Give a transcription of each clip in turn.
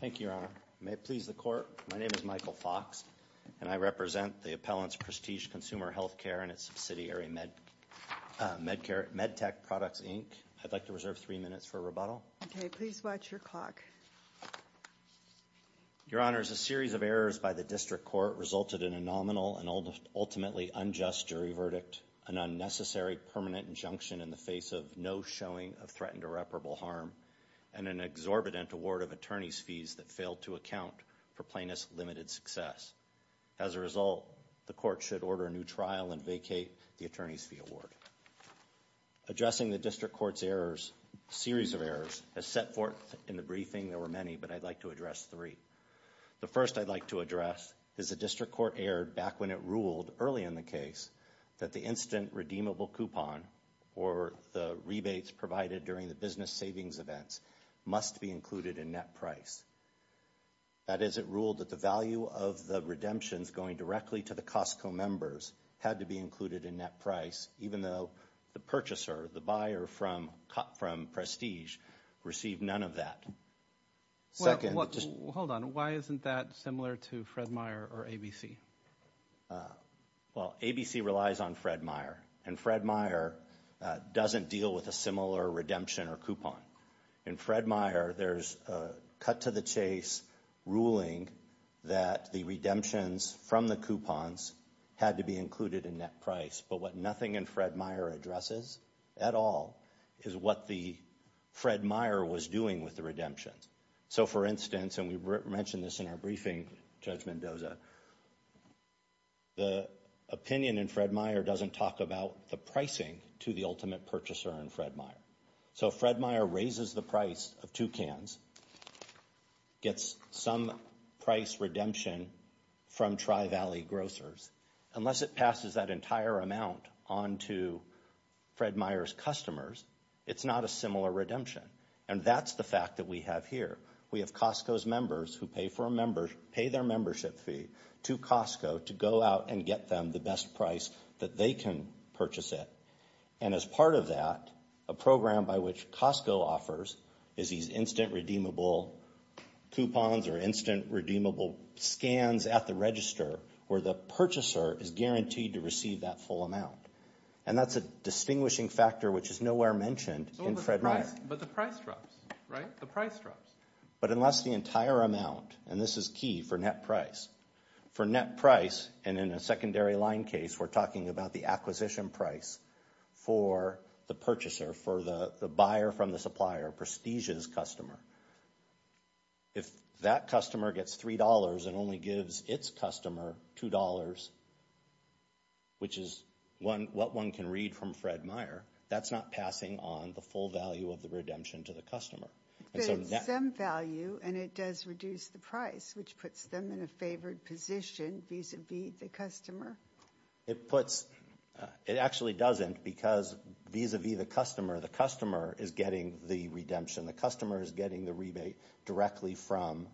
Thank you, Your Honor. May it please the Court, my name is Michael Fox and I represent the appellant's Prestige Consumer Healthcare and its subsidiary MedTech Products, Inc. I'd like to reserve three minutes for a rebuttal. Okay, please watch your clock. Your Honor, a series of errors by the District Court resulted in a nominal and ultimately unjust jury verdict, an irreparable harm, and an exorbitant award of attorney's fees that failed to account for plaintiff's limited success. As a result, the Court should order a new trial and vacate the attorney's fee award. Addressing the District Court's errors, a series of errors, as set forth in the briefing, there were many, but I'd like to address three. The first I'd like to address is the District Court erred back when it ruled, early in the case, that the instant redeemable coupon or the rebates provided during the business savings events must be included in net price. That is, it ruled that the value of the redemptions going directly to the Costco members had to be included in net price, even though the purchaser, the buyer from Prestige, received none of that. Hold on, why isn't that similar to Fred Meyer or ABC? Well, ABC relies on Fred Meyer, and Fred Meyer doesn't deal with a similar redemption or coupon. In Fred Meyer, there's a cut to the chase ruling that the redemptions from the coupons had to be included in net price, but what nothing in Fred Meyer addresses, at all, is what the Fred Meyer was doing with the redemptions. So, for instance, and we mentioned this in our briefing, Judge Mendoza, the opinion in Fred Meyer doesn't talk about the pricing to the ultimate purchaser in Fred Meyer. So, Fred Meyer raises the price of two cans, gets some price redemption from Tri-Valley grocers. Unless it passes that entire amount on to Fred Meyer's customers, it's not a similar redemption, and that's the fact that we have here. We have Costco's members who pay their membership fee to Costco to go out and get them the best price that they can purchase it, and as part of that, a program by which Costco offers is these instant redeemable coupons or instant redeemable scans at the register, where the purchaser is guaranteed to receive that full amount, and that's a distinguishing factor which is nowhere mentioned in Fred Meyer. But the price drops, right? The price drops. But unless the entire amount, and this is key for net price, for net price, and in a secondary line case, we're talking about the acquisition price for the purchaser, for the buyer from the supplier, Prestige's customer. If that customer gets $3 and only gives its customer $2, which is what one can read from Fred Meyer, that's not passing on the full value of the redemption to the customer. But it's some value, and it does reduce the price, which puts them in a favored position vis-a-vis the customer. It puts, it actually doesn't, because vis-a-vis the customer, the customer is getting the redemption. The customer is getting the rebate directly from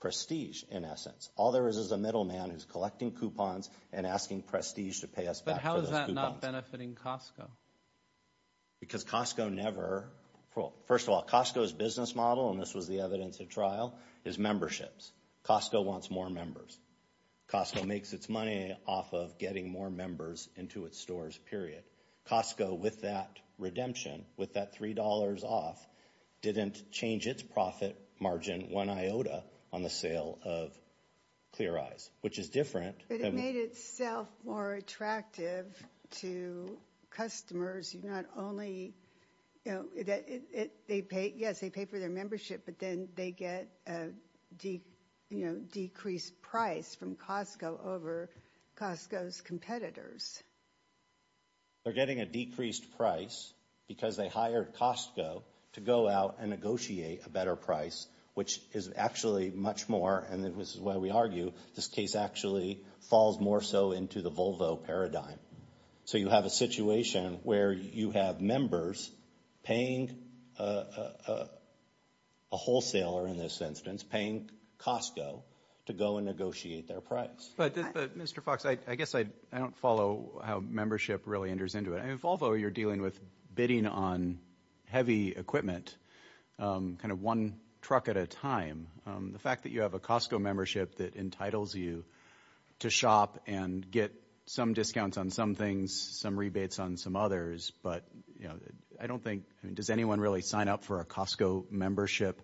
Prestige, in essence. All there is is a middleman who's collecting coupons and asking Prestige to pay us back for those coupons. But how is that not benefiting Costco? Because Costco never, well, first of all, Costco's business model, and this was the evidence at trial, is memberships. Costco wants more members. Costco makes its money off of getting more members into its stores, period. Costco, with that redemption, with that $3 off, didn't change its profit margin one iota on the sale of Clear Eyes, which is different. But it made itself more attractive to customers. You're not only, you know, they pay, yes, they pay for their membership, but then they get a, you know, decreased price from Costco over Costco's competitors. They're getting a decreased price because they hired Costco to go out and negotiate a better price, which is actually much more, and this is why we argue this case actually falls more so into the Volvo paradigm. So you have a situation where you have members paying a wholesaler, in this instance, paying Costco to go and negotiate their price. But, Mr. Fox, I guess I don't follow how membership really enters into it. In Volvo, you're dealing with bidding on heavy equipment, kind of one truck at a time. The fact that you have a Costco membership that entitles you to shop and get some discounts on some things, some rebates on some others, but, you know, I don't think, I mean, does anyone really sign up for a Costco membership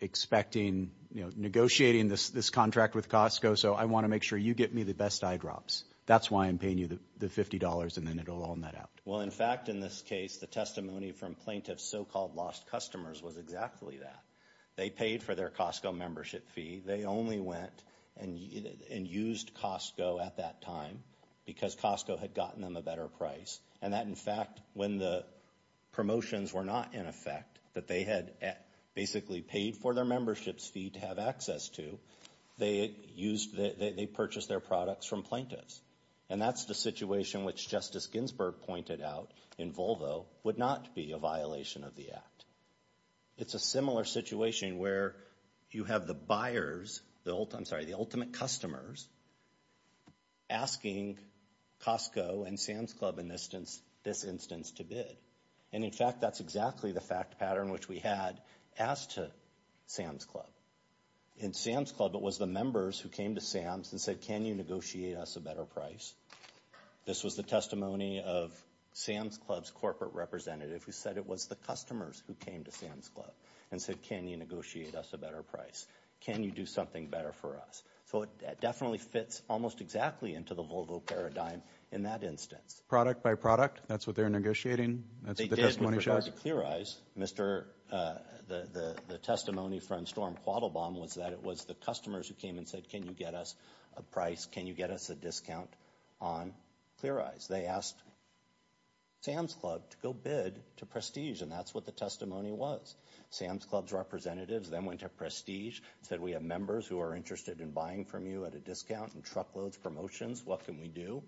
expecting, you know, negotiating this contract with Costco? So I want to make sure you get me the best eye drops. That's why I'm paying you the $50, and then it'll all net out. Well, in fact, in this case, the testimony from plaintiffs' so-called lost customers was exactly that. They paid for their Costco membership fee. They only went and used Costco at that time because Costco had gotten them a better price, and that, in fact, when the promotions were not in effect, that they had basically paid for their memberships fee to have access to, they used, they purchased their products from plaintiffs, and that's the situation which Justice Ginsburg pointed out in Volvo would not be a violation of the Act. It's a similar situation where you have the buyers, I'm sorry, the ultimate customers asking Costco and Sam's Club in this instance to bid, and, in fact, that's exactly the fact pattern which we had as to Sam's Club. In that instance, we said, can you negotiate us a better price? This was the testimony of Sam's Club's corporate representative who said it was the customers who came to Sam's Club and said, can you negotiate us a better price? Can you do something better for us? So it definitely fits almost exactly into the Volvo paradigm in that instance. Product by product? That's what they're negotiating? That's what the testimony showed? They did, we forgot to clear eyes. The testimony from Storm Quattlebaum was that it was the customers who came and said, can you get us a price? Can you get us a discount on Clear Eyes? They asked Sam's Club to go bid to Prestige, and that's what the testimony was. Sam's Club's representatives then went to Prestige, said we have members who are interested in buying from you at a discount and truckloads, promotions, what can we do?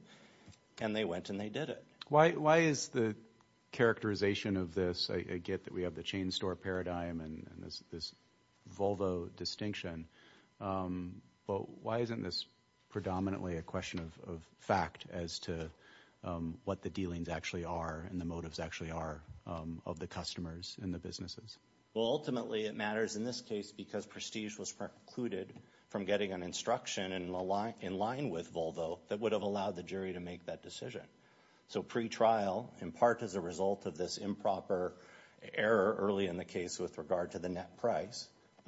And they went and they did it. Why is the characterization of this, I get that we have the chain store paradigm and this Volvo distinction, but why isn't this predominantly a question of fact as to what the dealings actually are and the motives actually are of the customers and the businesses? Well ultimately it matters in this case because Prestige was precluded from getting an instruction in line with Volvo that would have allowed the jury to make that decision. So pre-trial, in part as a But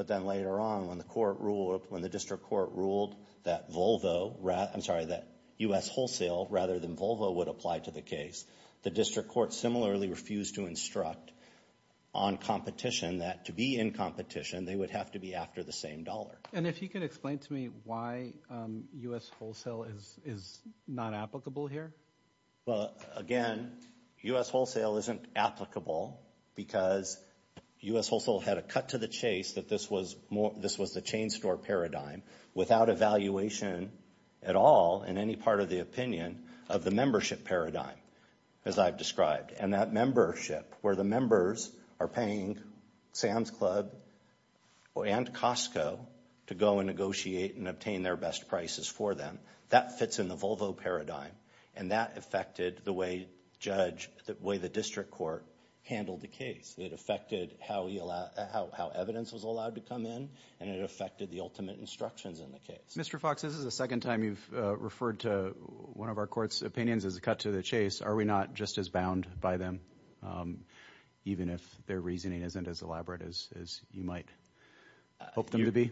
then later on when the court ruled, when the district court ruled that Volvo, I'm sorry, that U.S. Wholesale rather than Volvo would apply to the case, the district court similarly refused to instruct on competition that to be in competition they would have to be after the same dollar. And if you could explain to me why U.S. Wholesale is not applicable here? Well again, U.S. Wholesale had a cut to the chase that this was more, this was the chain store paradigm without evaluation at all in any part of the opinion of the membership paradigm as I've described. And that membership where the members are paying Sam's Club and Costco to go and negotiate and obtain their best prices for them, that fits in the Volvo paradigm and that affected the way judge, the way the district court handled the case. It affected how evidence was allowed to come in and it affected the ultimate instructions in the case. Mr. Fox, this is the second time you've referred to one of our court's opinions as a cut to the chase. Are we not just as bound by them even if their reasoning isn't as elaborate as you might hope them to be?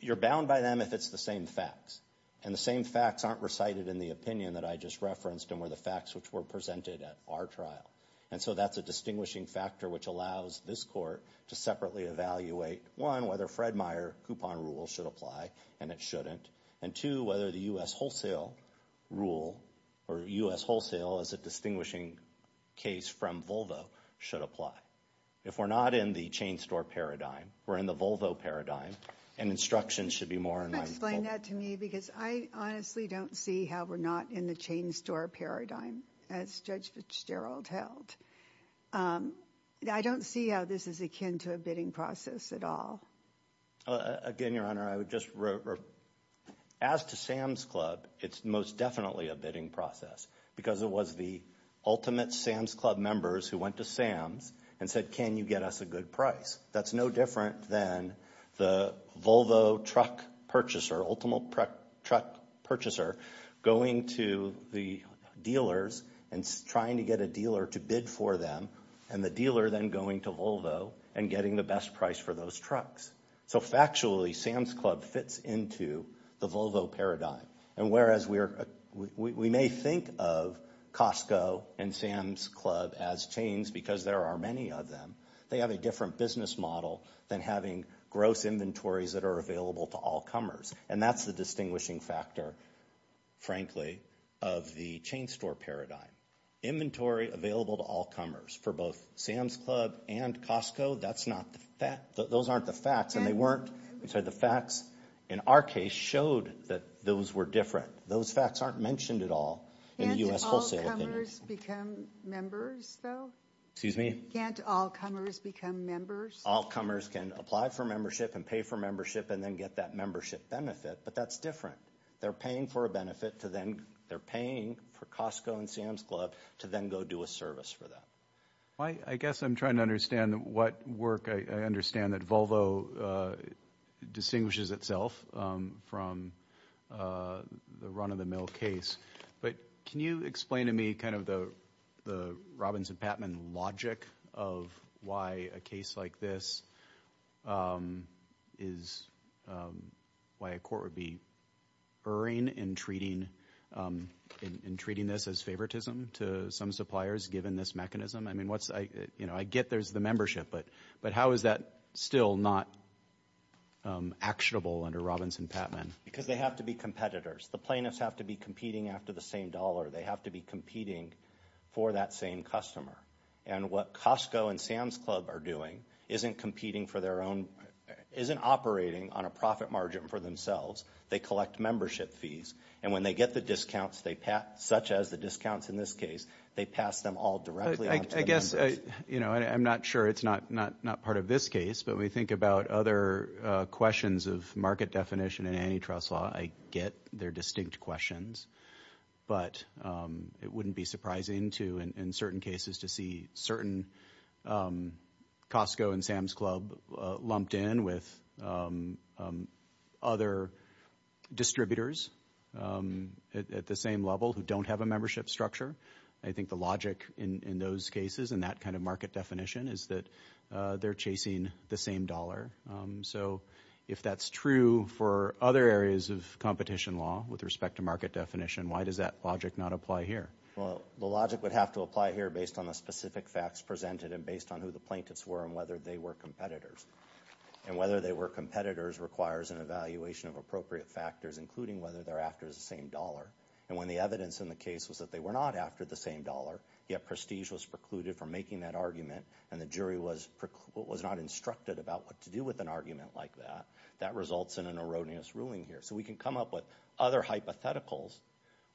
You're bound by them if it's the same facts. And the same facts aren't recited in the opinion that I just presented at our trial. And so that's a distinguishing factor which allows this court to separately evaluate, one, whether Fred Meyer coupon rule should apply and it shouldn't. And two, whether the U.S. Wholesale rule or U.S. Wholesale as a distinguishing case from Volvo should apply. If we're not in the chain store paradigm, we're in the Volvo paradigm and instructions should be more in line with Volvo. Can you explain that to me because I honestly don't see how we're not in the chain store paradigm as Judge Fitzgerald held. I don't see how this is akin to a bidding process at all. Again, Your Honor, I would just, as to Sam's Club, it's most definitely a bidding process because it was the ultimate Sam's Club members who went to Sam's and said, can you get us a good price? That's no different than the Volvo truck purchaser, ultimate truck purchaser going to the dealers and trying to get a dealer to bid for them and the dealer then going to Volvo and getting the best price for those trucks. So factually, Sam's Club fits into the Volvo paradigm. And whereas we may think of Costco and Sam's Club as chains because there are many of them, they have a different business model than having gross inventories that are available to all comers. And that's the distinguishing factor, frankly, of the chain store paradigm. Inventory available to all comers for both Sam's Club and Costco, that's not the fact. Those aren't the facts and they weren't. So the facts in our case showed that those were different. Those facts aren't mentioned at all in the U.S. wholesale opinion. Can't all comers become members, though? They can pay for membership and pay for membership and then get that membership benefit, but that's different. They're paying for a benefit to then, they're paying for Costco and Sam's Club to then go do a service for that. I guess I'm trying to understand what work I understand that Volvo distinguishes itself from the run-of-the-mill case, but can you explain to me kind of the the Robbins and Patman logic of why a case like this is why a court would be erring in treating this as favoritism to some suppliers given this mechanism? I mean, I get there's the membership, but how is that still not actionable under Robbins and Patman? Because they have to be competitors. The plaintiffs have to be competing after the same dollar. They have to be competing for that same customer. And what Costco and Sam's Club are doing isn't competing for their own, isn't operating on a profit margin for themselves. They collect membership fees and when they get the discounts they pass, such as the discounts in this case, they pass them all directly. I guess, you know, I'm not sure it's not not not part of this case, but we think about other questions of market definition and antitrust law, I get their distinct questions, but it wouldn't be surprising to in certain cases to see certain Costco and Sam's Club lumped in with other distributors at the same level who don't have a membership structure. I think the logic in those cases and that kind of market definition is that they're chasing the same dollar. So if that's true for other areas of competition law with respect to market definition, why does that logic not apply here? Well, the logic would have to apply here based on the specific facts presented and based on who the plaintiffs were and whether they were competitors. And whether they were competitors requires an evaluation of appropriate factors, including whether they're after the same dollar. And when the evidence in the case was that they were not after the same dollar, yet prestige was precluded from making that argument and the jury was not instructed about what to do with an argument like that, that results in an erroneous ruling here. So we can come up with other hypotheticals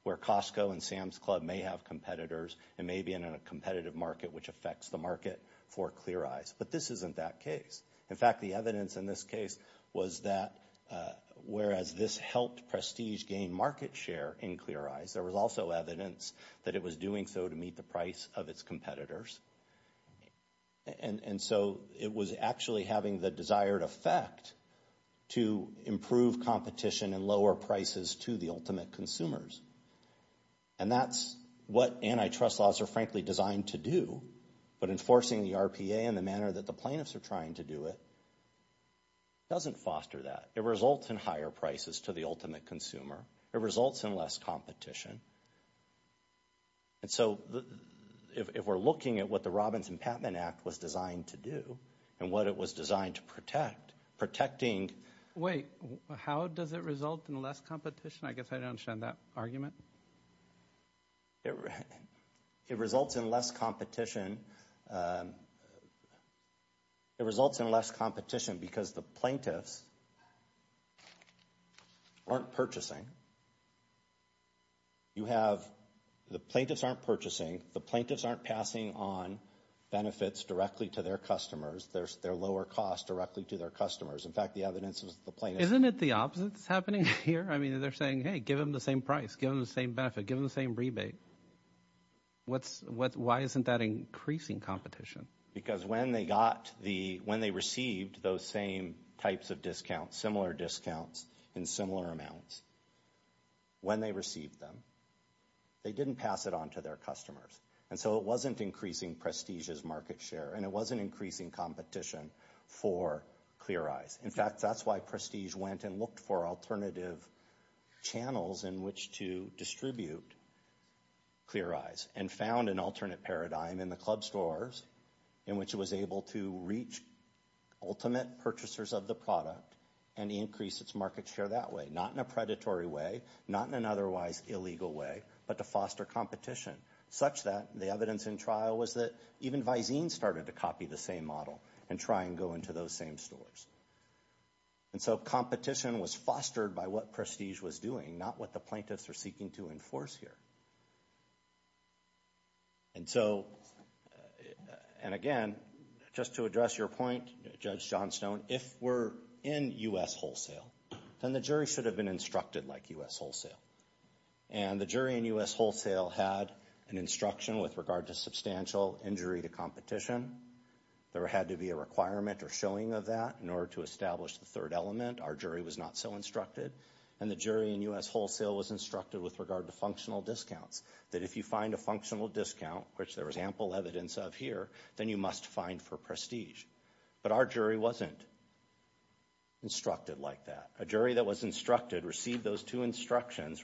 where Costco and Sam's Club may have competitors and may be in a competitive market which affects the market for Clear Eyes. But this isn't that case. In fact, the evidence in this case was that whereas this helped prestige gain market share in Clear Eyes, there was also evidence that it was doing so to meet the price of its competitors. And so it was actually having the desired effect to improve competition and lower prices to the ultimate consumers. And that's what antitrust laws are frankly designed to do. But enforcing the RPA in the manner that the plaintiffs are trying to do it doesn't foster that. It results in higher prices to the ultimate consumer. It results in less competition. And so if we're looking at what the Robbins and Patman Act was designed to do and what it was designed to protect, protecting... Wait, how does it result in less competition? I guess I don't understand that argument. It results in less competition. It results in less competition because the plaintiffs aren't purchasing. You have the plaintiffs aren't purchasing, the plaintiffs aren't passing on benefits directly to their customers. There's their lower cost directly to their customers. In fact, the evidence is the plaintiffs... Isn't it the opposite that's happening here? I mean, they're saying, hey, give them the same price, give them the same benefit, give them the same rebate. Why isn't that increasing competition? Because when they received those same types of discounts, similar discounts in similar amounts, when they received them, they didn't pass it on to their customers. And so it wasn't increasing prestige's market share and it wasn't increasing competition for ClearEyes. In fact, that's why Prestige went and looked for alternative channels in which to distribute ClearEyes and found an alternate paradigm in the club stores in which it was able to reach ultimate purchasers of the product and increase its market share that way. Not in a predatory way, not in an otherwise illegal way, but to foster competition such that the evidence in trial was that even Vizine started to copy the same model and try and go into those same stores. And so competition was fostered by what Prestige was doing, not what the plaintiffs are seeking to enforce here. And so, and again, just to address your point, Judge Johnstone, if we're in U.S. wholesale, then the jury should have been instructed like U.S. wholesale. And the jury in U.S. wholesale had an instruction with regard to substantial injury to competition. There had to be a requirement or showing of that in order to establish the third element. Our jury was not so instructed. And the jury in U.S. wholesale was instructed with regard to functional discounts, that if you find a functional discount, which there was ample evidence of here, then you must find for Prestige. But our jury wasn't instructed like that. A jury that was instructed received those two instructions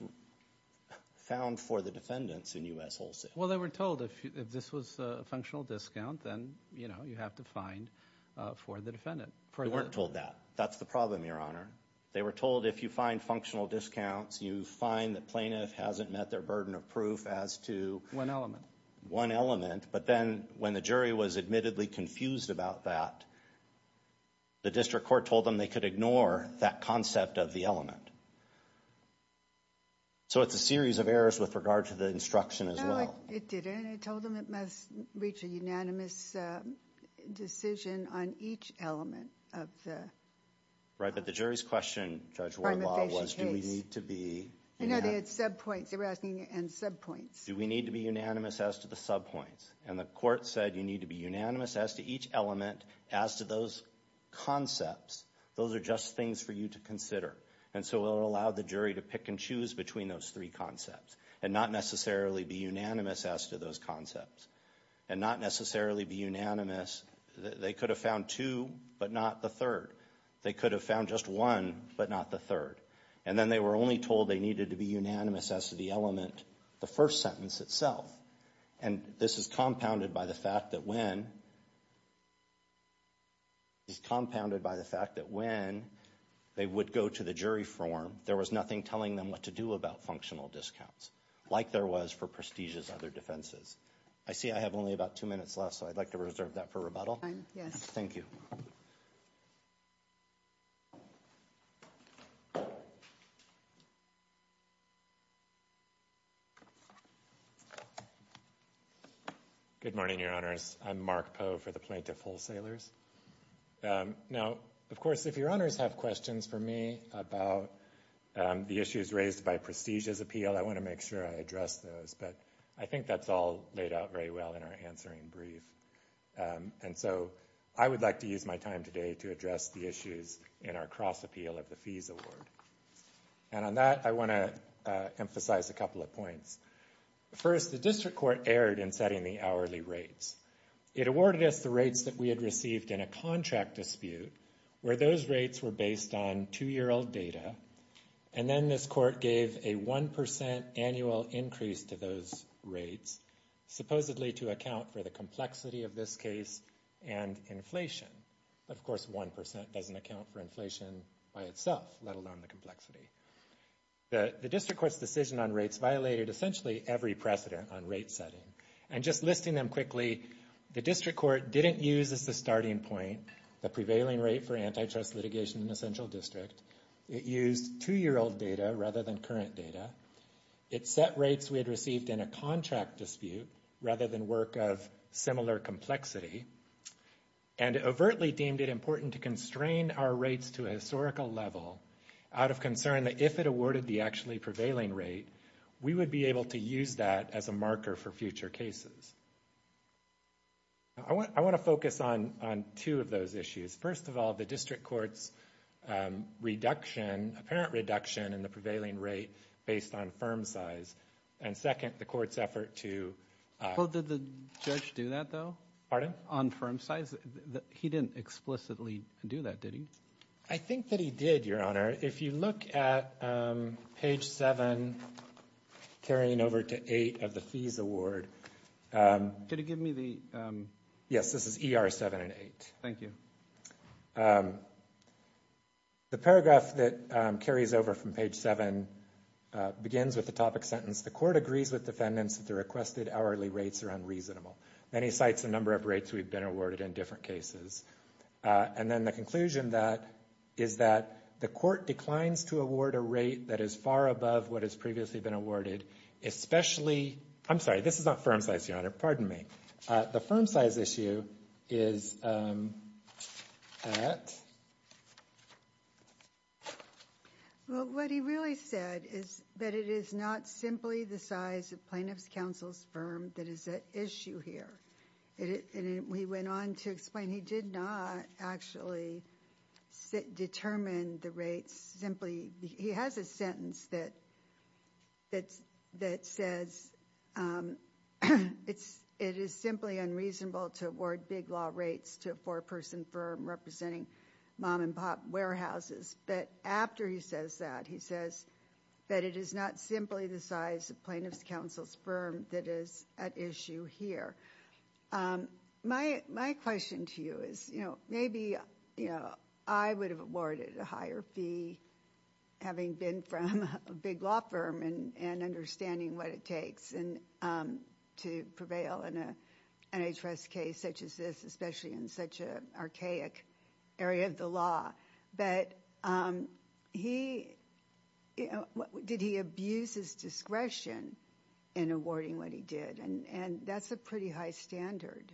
found for the defendants in U.S. wholesale. Well, they were told if this was a functional discount, then, you know, you have to find for the defendant. They weren't told that. That's the problem, Your Honor. They were told if you find functional discounts, you find the plaintiff hasn't met their burden of proof as to one element. But then when the jury was admittedly confused about that, the district court told them they could ignore that concept of the element. So it's a series of errors with regard to the instruction as well. No, it didn't. I told them it must reach a unanimous decision on each element of the... Right, but the jury's question, Judge Wardlaw, was do we need to be... No, they had subpoints. They were asking, and subpoints. Do we need to be unanimous as to the subpoints? And the court said you need to be unanimous as to each element, as to those concepts. Those are just things for you to consider. And so it allowed the jury to pick and choose between those three concepts, and not necessarily be unanimous as to those concepts, and not necessarily be unanimous. They could have found two, but not the third. They could have found just one, but not the third. And then they were only told they needed to be unanimous as to the element, the first sentence itself. And this is compounded by the fact that when... It's compounded by the fact that when they would go to the jury forum, there was nothing telling them what to do about functional discounts, like there was for Prestige's other defenses. I see I have only about two minutes left, so I'd like to reserve that for rebuttal. Thank you. Good morning, Your Honors. I'm Mark Poe for the Plaintiff Wholesalers. Now, of course, if Your Honors have questions for me about the issues raised by Prestige's appeal, I want to make sure I address those. But I think that's all laid out very well in our answering brief. And so I would like to use my time today to address the issues in our cross-appeal of the Fees Award. And on that, I want to emphasize a couple of points. First, the District Court erred in setting the hourly rates. It awarded us the rates that we had received in a contract dispute, where those rates were based on two-year-old data. And then this court gave a 1% annual increase to those rates, supposedly to account for the complexity of this case and inflation. Of course, 1% doesn't account for inflation by itself, let alone the complexity. The District Court's decision on rates violated essentially every precedent on rate setting. And just listing them quickly, the District Court didn't use as the starting point the prevailing rate for antitrust litigation in the Central District. It used two-year-old data rather than current data. It set rates we had received in a contract dispute rather than work of similar complexity, and overtly deemed it important to constrain our rates to a historical level out of concern that if it awarded the actually prevailing rate, we would be able to use that as a marker for future cases. I want to focus on two of those issues. First of all, the District Court's reduction, apparent reduction, in the prevailing rate based on firm size. And second, the court's effort to... Well, did the judge do that though? Pardon? On firm size, he didn't explicitly do that, did he? I think that he did, Your Honor. If you look at page 7, carrying over to 8 of the fees award... Could you give me the... Yes, this is ER 7 and 8. Thank you. The paragraph that carries over from page 7 begins with the topic sentence, the court agrees with defendants that the requested hourly rates are unreasonable. Then he cites the number of rates we've been awarded in different cases. And then the conclusion is that the court declines to award a rate that is far above what has previously been awarded, especially... I'm sorry, this is not firm size, Your Honor. Pardon me. The firm size issue is that... Well, what he really said is that it is not simply the size of plaintiff's counsel's firm that is at issue here. And he went on to explain he did not actually determine the rates simply... He has a sentence that says it is simply unreasonable to award big law rates to a four-person firm representing mom-and-pop warehouses. But after he says that, he says that it is not simply the size of plaintiff's counsel's firm that is at issue here. My question to you is, you know, maybe, you know, I would have awarded a higher fee having been from a big law firm and understanding what it takes to prevail in an NHRS case such as this, especially in such an archaic area of the law. But he... Did he abuse his discretion in awarding what he did? And that's a pretty high standard.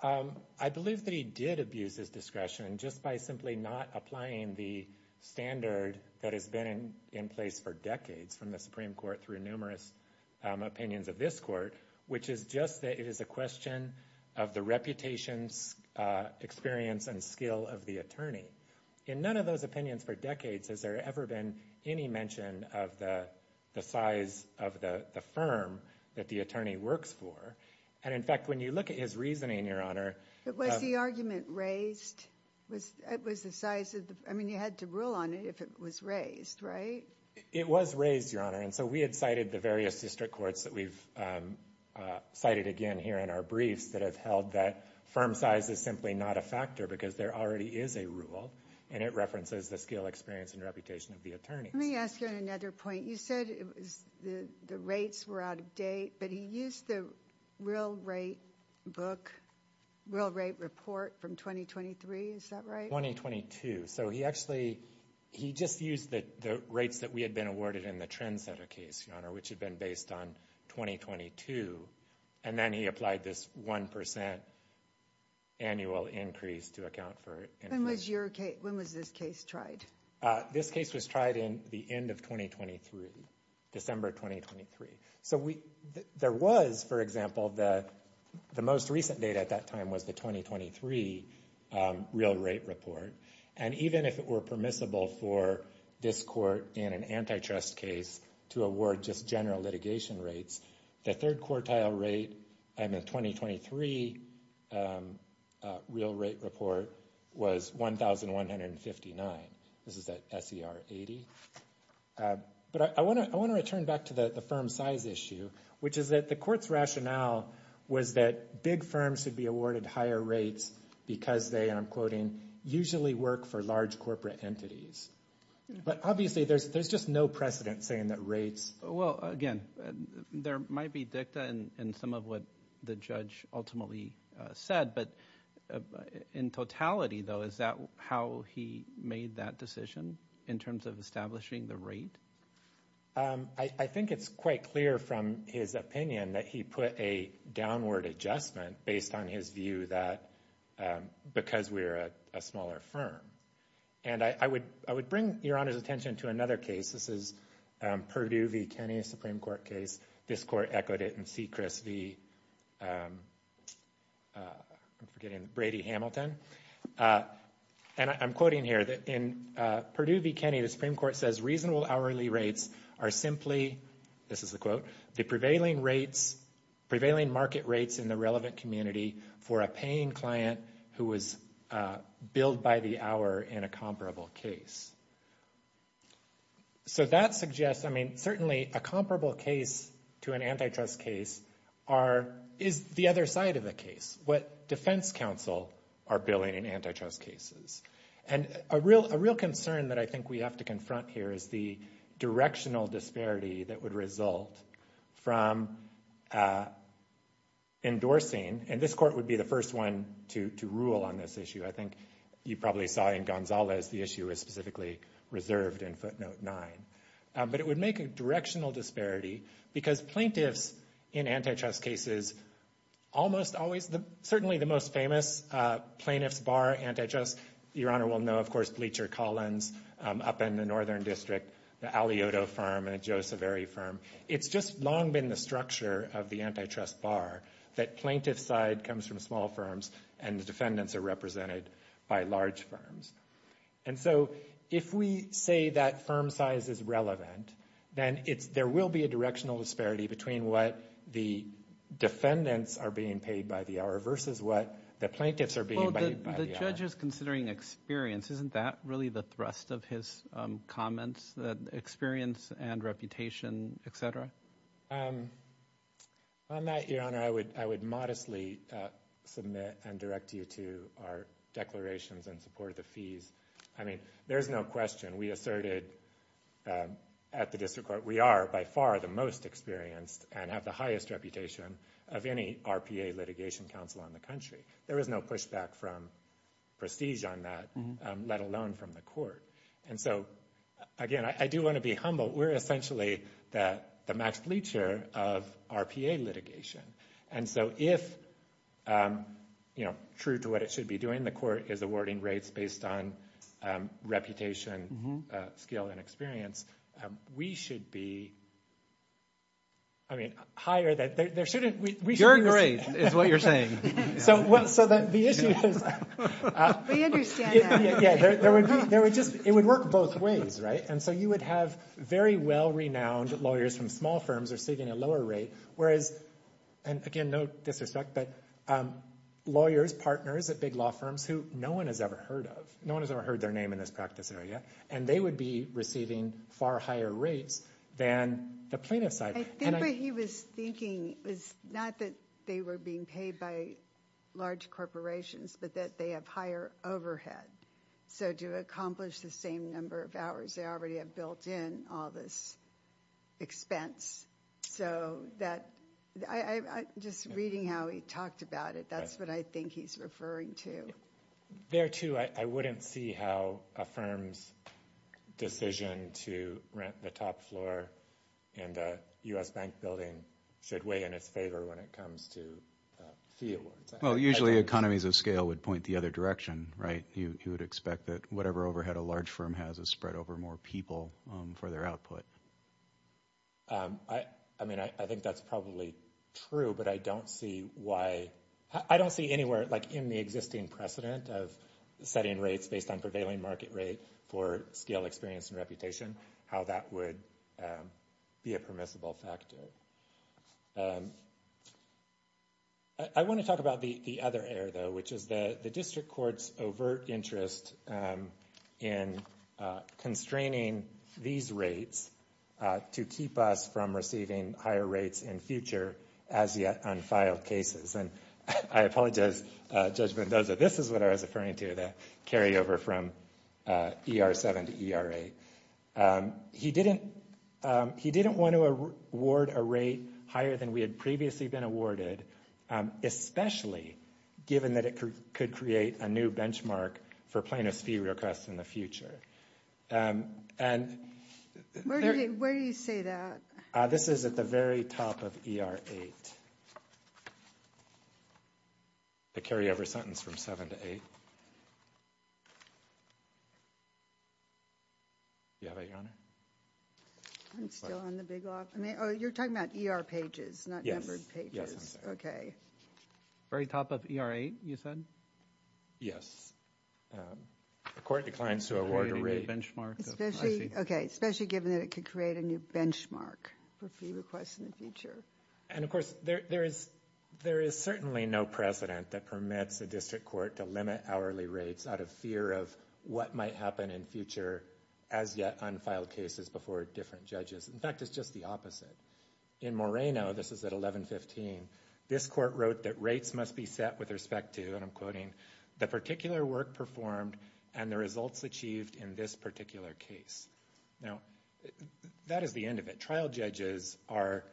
I believe that he did abuse his discretion just by simply not applying the standard that has been in place for decades from the Supreme Court through numerous opinions of this court, which is just that it is a question of the reputation, experience, and skill of the attorney. In none of those opinions for decades has there ever been any mention of the size of the firm that the attorney works for. And in fact, when you look at his reasoning, Your Honor... But was the argument raised? Was the size of the... I mean, you had to rule on it if it was raised, right? It was raised, Your Honor. And so we had cited the various district courts that we've cited again here in our briefs that have held that firm size is simply not a factor because there already is a rule, and it references the skill, experience, and reputation of the attorneys. Let me ask you on another point. You said the rates were out of date, but he used the real rate book, real rate report from 2023. Is that right? 2022. So he actually... He just used the rates that we had been awarded in the Trendsetter case, Your Honor, which had been based on 2022. And then he applied this 1% annual increase to account for... When was this case tried? This case was tried in the end of 2023, December 2023. So there was, for example, the most recent data at that time was the 2023 real rate report. And even if it were permissible for this court in an antitrust case to award just general litigation rates, the third quartile rate in the 2023 real rate report was 1,159. This is at S.E.R. 80. But I want to return back to the firm size issue, which is that the court's rationale was that big firms should be awarded higher rates because they, and I'm quoting, usually work for large corporate entities. But obviously, there's just no precedent saying that rates... Well, again, there might be dicta in some of what the judge ultimately said, but in totality, though, is that how he made that decision in terms of establishing the rate? I think it's quite clear from his opinion that he put a downward adjustment based on his view that because we're a smaller firm. And I would bring Your Honor's attention to another case. This is Purdue v. Kenney, a Supreme Court case. This court echoed it in C. Chris v. I'm forgetting, Brady-Hamilton. And I'm quoting here that in Purdue v. Kenney, the Supreme Court says, reasonable hourly rates are simply, this is the quote, the prevailing rates, prevailing market rates in the relevant community for a paying client who was billed by the hour in a comparable case. So that suggests, I mean, certainly a comparable case to an antitrust case is the other side of the case, what defense counsel are billing in antitrust cases. And a real concern that I think we have to confront here is the directional disparity that would result from endorsing, and this court would be the first one to rule on this issue. I think you probably saw in Gonzalez the issue was specifically reserved in footnote 9. But it would make a directional disparity because plaintiffs in antitrust cases almost always, certainly the most famous plaintiffs bar antitrust, Your Honor will know, of course, Bleacher-Collins up in the Northern District, the Alioto firm and the Joe Saveri firm. It's just long been the structure of the antitrust bar that plaintiff side comes from small firms and the defendants are represented by large firms. And so if we say that firm size is relevant, then there will be a directional disparity between what the defendants are being paid by the hour versus what the plaintiffs are being paid by the hour. Well, the judge is considering experience. Isn't that really the thrust of his comments, the experience and reputation, et cetera? On that, Your Honor, I would modestly submit and direct you to our declarations in support of the fees. I mean, there's no question, we asserted at the District Court, we are by far the most experienced and have the highest reputation of any RPA litigation counsel on the country. There is no pushback from prestige on that, let alone from the court. And so, again, I do want to be humble. We're essentially the max bleacher of RPA litigation. And so if, you know, true to what it should be doing, the court is awarding rates based on reputation, skill and experience, we should be, I mean, higher than, there shouldn't, we shouldn't. You're great, is what you're saying. So that the issue is... We understand that. Yeah, there would be, there would just, it would work both ways, right? And so you would have very well-renowned lawyers from small firms receiving a lower rate, whereas, and again, no disrespect, but lawyers, partners at big law firms who no one has ever heard of, no one has ever heard their name in this practice area, and they would be receiving far higher rates than the plaintiff side. I think what he was thinking was not that they were being paid by large corporations, but that they have higher overhead. So to accomplish the same number of hours, they already have built in all this expense. So that, I'm just reading how he talked about it. That's what I think he's referring to. There too, I wouldn't see how a firm's decision to rent the top floor in the U.S. Bank building should weigh in its favor when it comes to fee awards. Well, usually economies of scale would point the other direction, right? You would expect that whatever overhead a large firm has is spread over more people for their output. I mean, I think that's probably true, but I don't see why, I don't see anywhere, like in the existing precedent of setting rates based on prevailing market rate for scale experience and reputation, how that would be a permissible factor. I want to talk about the other area, though, which is the district court's overt interest in constraining these rates to keep us from receiving higher rates in future as-yet-unfiled cases. And I apologize, Judge Mendoza, this is what I was referring to, the carryover from ER-7 to ER-8. He didn't want to award a rate higher than we had previously been awarded, especially given that it could create a new benchmark for plaintiff's fee requests in the future. Where do you say that? This is at the very top of ER-8, the carryover sentence from 7 to 8. Do you have it, Your Honor? I'm still on the big log. Oh, you're talking about ER pages, not numbered pages. Okay. Very top of ER-8, you said? Yes. According to clients who award a rate. Especially given that it could create a new benchmark for fee requests in the future. And, of course, there is certainly no precedent that permits a district court to limit hourly rates out of fear of what might happen in future as-yet-unfiled cases before different judges. In fact, it's just the opposite. In Moreno, this is at 1115, this court wrote that rates must be set with respect to, and I'm quoting, the particular work performed and the results achieved in this particular case. Now, that is the end of it. Trial judges are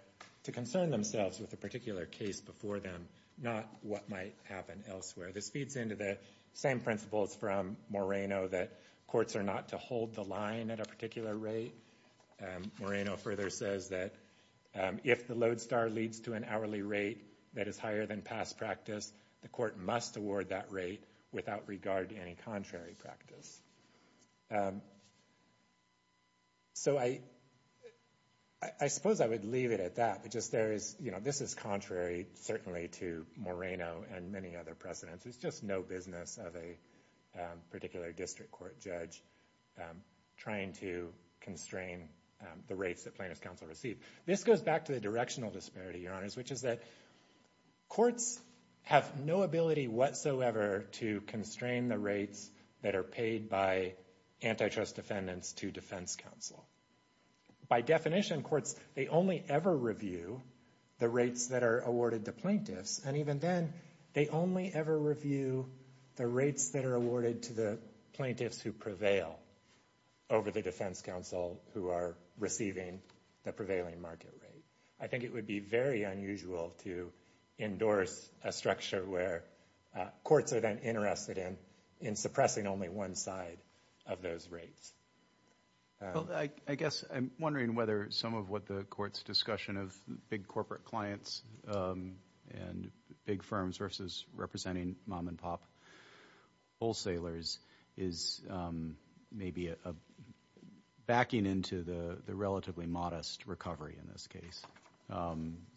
to concern themselves with the particular case before them, not what might happen elsewhere. This feeds into the same principles from Moreno that courts are not to hold the line at a particular rate. Moreno further says that if the load star leads to an hourly rate that is higher than past practice, the court must award that rate without regard to any contrary practice. So, I suppose I would leave it at that. This is contrary, certainly, to Moreno and many other precedents. It's just no business of a particular district court judge trying to constrain the rates that plaintiffs' counsel receive. This goes back to the directional disparity, Your Honors, which is that courts have no ability whatsoever to constrain the rates that are paid by antitrust defendants to defense counsel. By definition, courts, they only ever review the rates that are awarded to plaintiffs, and even then, they only ever review the rates that are awarded to the plaintiffs who prevail over the defense counsel who are receiving the prevailing market rate. I think it would be very unusual to endorse a structure where courts are then interested in suppressing only one side of those rates. Well, I guess I'm wondering whether some of what the court's discussion of big corporate clients and big firms versus representing mom-and-pop wholesalers is maybe backing into the relatively modest recovery in this case.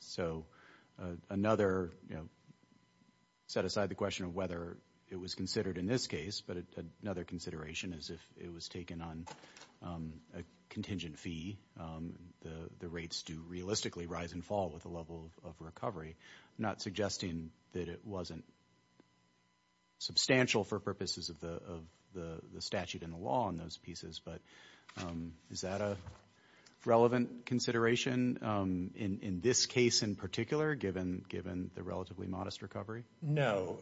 So, another, you know, set aside the question of whether it was considered in this case, but another consideration is if it was taken on a contingent fee, the rates do realistically rise and fall with the level of recovery. I'm not suggesting that it wasn't substantial for purposes of the statute and the law in those pieces, but is that a relevant consideration in this case in particular, given the relatively modest recovery? No.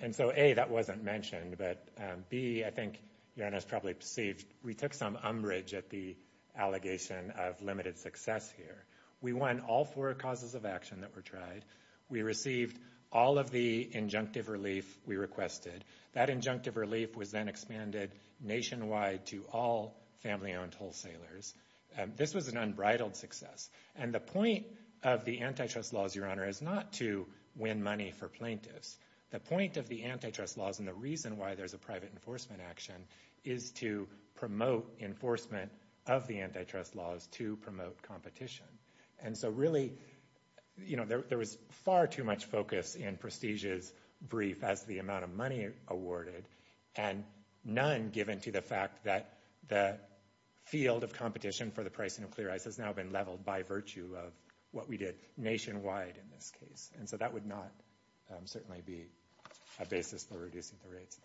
And so, A, that wasn't mentioned, but B, I think your Honor has probably perceived we took some umbrage at the allegation of limited success here. We won all four causes of action that were tried. We received all of the injunctive relief we requested. That injunctive relief was then expanded nationwide to all family-owned wholesalers. This was an unbridled success. And the point of the antitrust laws, your Honor, is not to win money for plaintiffs. The point of the antitrust laws and the reason why there's a private enforcement action is to promote enforcement of the antitrust laws to promote competition. And so, really, you know, there was far too much focus in Prestige's brief as to the amount of money awarded and none given to the fact that the field of competition for the pricing of clear ice has now been leveled by virtue of what we did nationwide in this case. And so that would not certainly be a basis for reducing the rates.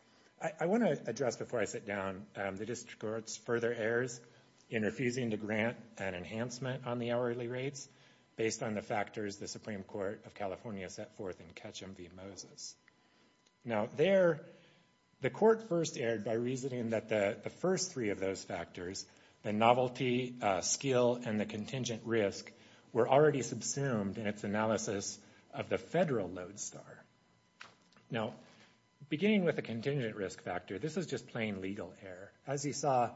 I want to address before I sit down the district court's further errors in refusing to grant an enhancement on the hourly rates based on the factors the Supreme Court of California set forth in Ketchum v. Moses. Now, there, the court first erred by reasoning that the first three of those factors, the novelty, skill, and the contingent risk, were already subsumed in its analysis of the federal load star. Now, beginning with the contingent risk factor, this was just plain legal error. As you saw,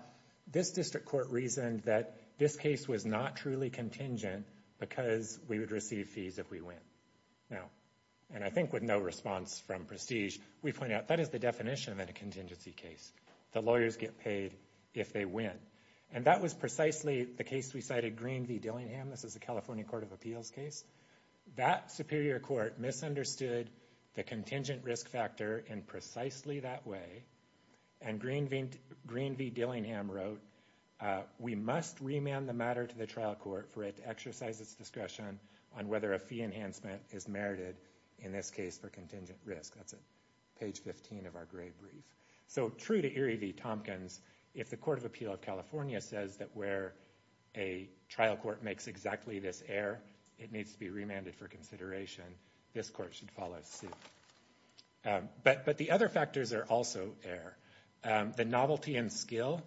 this district court reasoned that this case was not truly contingent because we would receive fees if we win. Now, and I think with no response from Prestige, we point out that is the definition of a contingency case. The lawyers get paid if they win. And that was precisely the case we cited, Green v. Dillingham. This is a California Court of Appeals case. That superior court misunderstood the contingent risk factor in precisely that way. And Green v. Dillingham wrote, we must remand the matter to the trial court for it to exercise its discretion on whether a fee enhancement is merited, in this case, for contingent risk. That's at page 15 of our grade brief. So true to Erie v. Tompkins, if the Court of Appeal of California says that where a trial court makes exactly this error, it needs to be remanded for consideration, this court should follow suit. But the other factors are also error. The novelty and skill,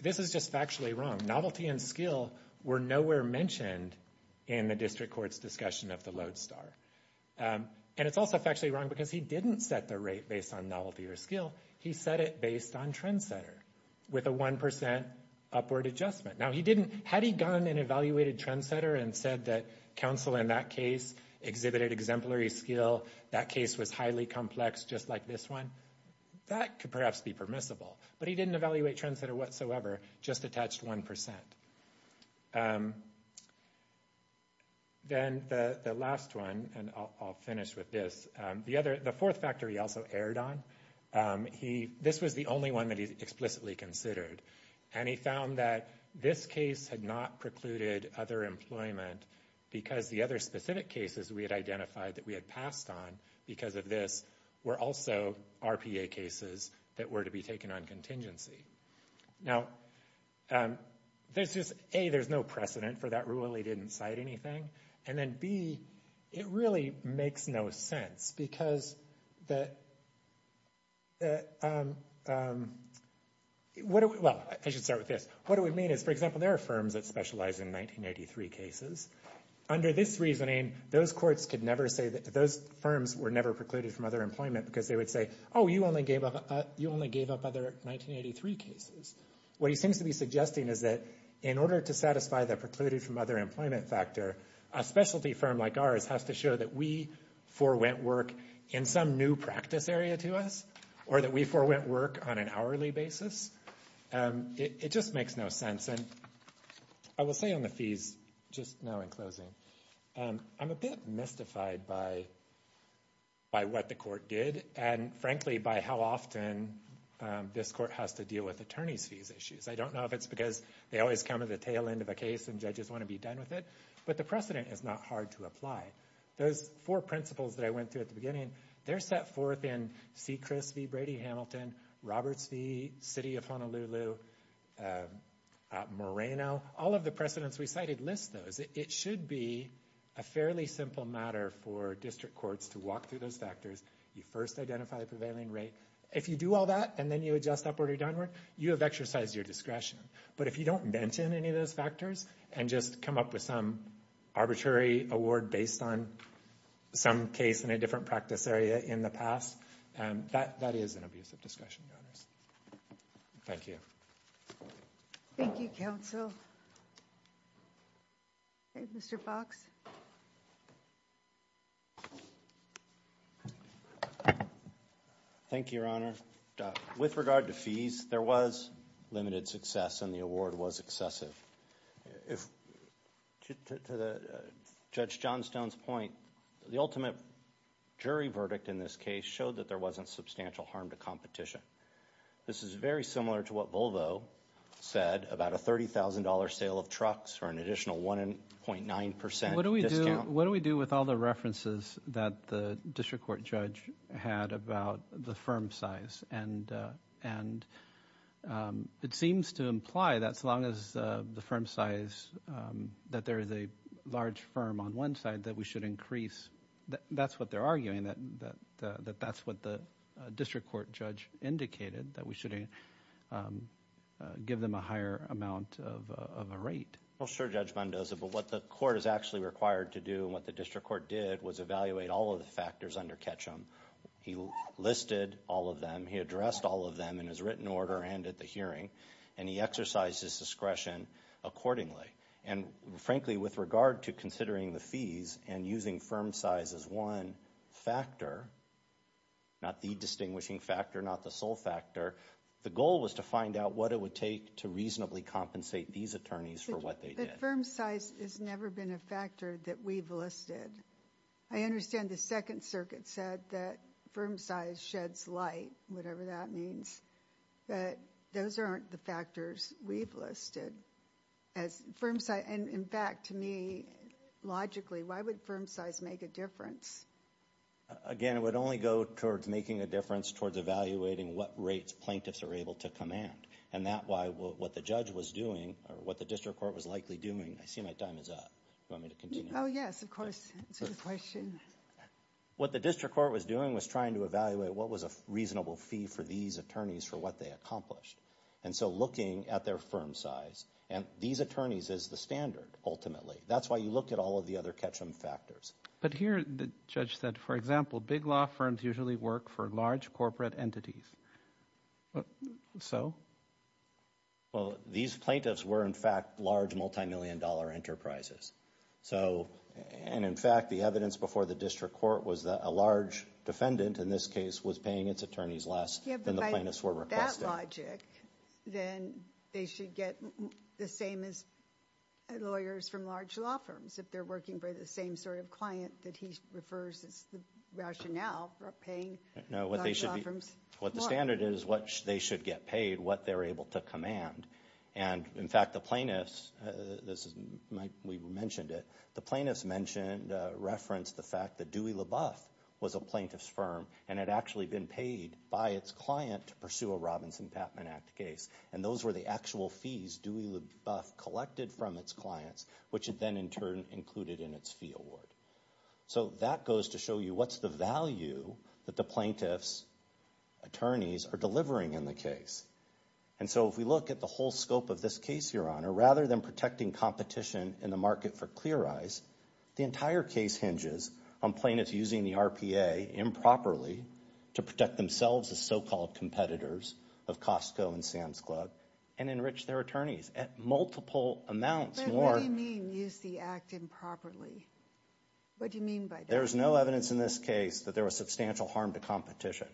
this is just factually wrong. Novelty and skill were nowhere mentioned in the district court's discussion of the Lodestar. And it's also factually wrong because he didn't set the rate based on novelty or skill. He set it based on trendsetter with a 1% upward adjustment. Now, he didn't, had he gone and evaluated trendsetter and said that counsel in that case exhibited exemplary skill, that case was highly complex just like this one, that could perhaps be permissible. But he didn't evaluate trendsetter whatsoever, just attached 1%. Then the last one, and I'll finish with this, the fourth factor he also erred on, this was the only one that he explicitly considered. And he found that this case had not precluded other employment because the other specific cases we had identified that we had passed on because of this were also RPA cases that were to be taken on contingency. Now, there's just, A, there's no precedent for that rule. He didn't cite anything. And then B, it really makes no sense because the, what do we, well, I should start with this. What do we mean is, for example, there are firms that specialize in 1983 cases. Under this reasoning, those courts could never say that, those firms were never precluded from other employment because they would say, oh, you only gave up other 1983 cases. What he seems to be suggesting is that in order to satisfy the precluded from other employment factor, a specialty firm like ours has to show that we forwent work in some new practice area to us or that we forwent work on an hourly basis. It just makes no sense. And I will say on the fees just now in closing, I'm a bit mystified by what the court did and, frankly, by how often this court has to deal with attorney's fees issues. I don't know if it's because they always come at the tail end of a case and judges want to be done with it, but the precedent is not hard to apply. Those four principles that I went through at the beginning, they're set forth in C. Chris v. Brady-Hamilton, Roberts v. City of Honolulu, Moreno. All of the precedents we cited list those. It should be a fairly simple matter for district courts to walk through those factors. You first identify the prevailing rate. If you do all that and then you adjust upward or downward, you have exercised your discretion. But if you don't mention any of those factors and just come up with some arbitrary award based on some case in a different practice area in the past, that is an abuse of discretion, Your Honors. Thank you. Thank you, Counsel. Mr. Fox. Thank you, Your Honor. With regard to fees, there was limited success and the award was excessive. To Judge Johnstone's point, the ultimate jury verdict in this case showed that there wasn't substantial harm to competition. This is very similar to what Volvo said about a $30,000 sale of trucks for an additional 1.9% discount. What do we do with all the references that the district court judge had about the firm size? And it seems to imply that as long as the firm size, that there is a large firm on one side, that we should increase, that's what they're arguing, that that's what the district court judge indicated, that we should give them a higher amount of a rate. Well, sure, Judge Mendoza, but what the court is actually required to do and what the district court did was evaluate all of the factors under Ketchum. He listed all of them, he addressed all of them in his written order and at the hearing, and he exercised his discretion accordingly. And frankly, with regard to considering the fees and using firm size as one factor, not the distinguishing factor, not the sole factor, the goal was to find out what it would take to reasonably compensate these attorneys for what they did. But firm size has never been a factor that we've listed. I understand the Second Circuit said that firm size sheds light, whatever that means, but those aren't the factors we've listed. And in fact, to me, logically, why would firm size make a difference? Again, it would only go towards making a difference, towards evaluating what rates plaintiffs are able to command. And that's why what the judge was doing, or what the district court was likely doing, I see my time is up. Do you want me to continue? Oh, yes, of course. Answer the question. What the district court was doing was trying to evaluate what was a reasonable fee for these attorneys for what they accomplished. And so looking at their firm size, and these attorneys is the standard, ultimately. That's why you look at all of the other catch-em factors. But here, the judge said, for example, big law firms usually work for large corporate entities. So? Well, these plaintiffs were, in fact, large multimillion dollar enterprises. So, and in fact, the evidence before the district court was that a large defendant, in this case, was paying its attorneys less than the plaintiffs were requesting. Yeah, but by that logic, then they should get the same as lawyers from large law firms, if they're working for the same sort of client that he refers as the rationale for paying large law firms more. No, what the standard is, what they should get paid, what they're able to command. And in fact, the plaintiffs, this is, we mentioned it, the plaintiffs mentioned, referenced the fact that Dewey LaBeouf was a plaintiff's firm and had actually been paid by its client to pursue a Robinson-Patman Act case. And those were the actual fees Dewey LaBeouf collected from its clients, which it then, in turn, included in its fee award. So that goes to show you what's the value that the plaintiffs' attorneys are delivering in the case. And so if we look at the whole scope of this case, Your Honor, rather than protecting competition in the market for clear eyes, the entire case hinges on plaintiffs using the RPA improperly to protect themselves as so-called competitors of Costco and Sam's Club and enrich their attorneys at multiple amounts more. But what do you mean, use the act improperly? What do you mean by that? There's no evidence in this case that there was substantial harm to competition.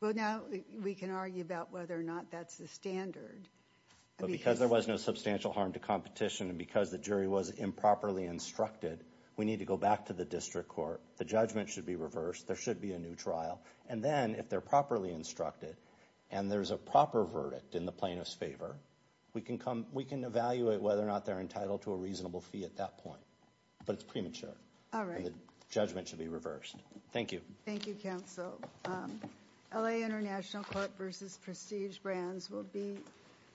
Well, now we can argue about whether or not that's the standard. But because there was no substantial harm to competition and because the jury was improperly instructed, we need to go back to the district court. The judgment should be reversed. There should be a new trial. And then, if they're properly instructed and there's a proper verdict in the plaintiff's favor, we can evaluate whether or not they're entitled to a reasonable fee at that point. But it's premature. All right. And the judgment should be reversed. Thank you. Thank you, counsel. LA International Court v. Prestige Brands will be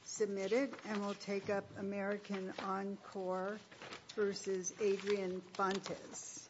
submitted and will take up American Encore v. Adrian Fontes.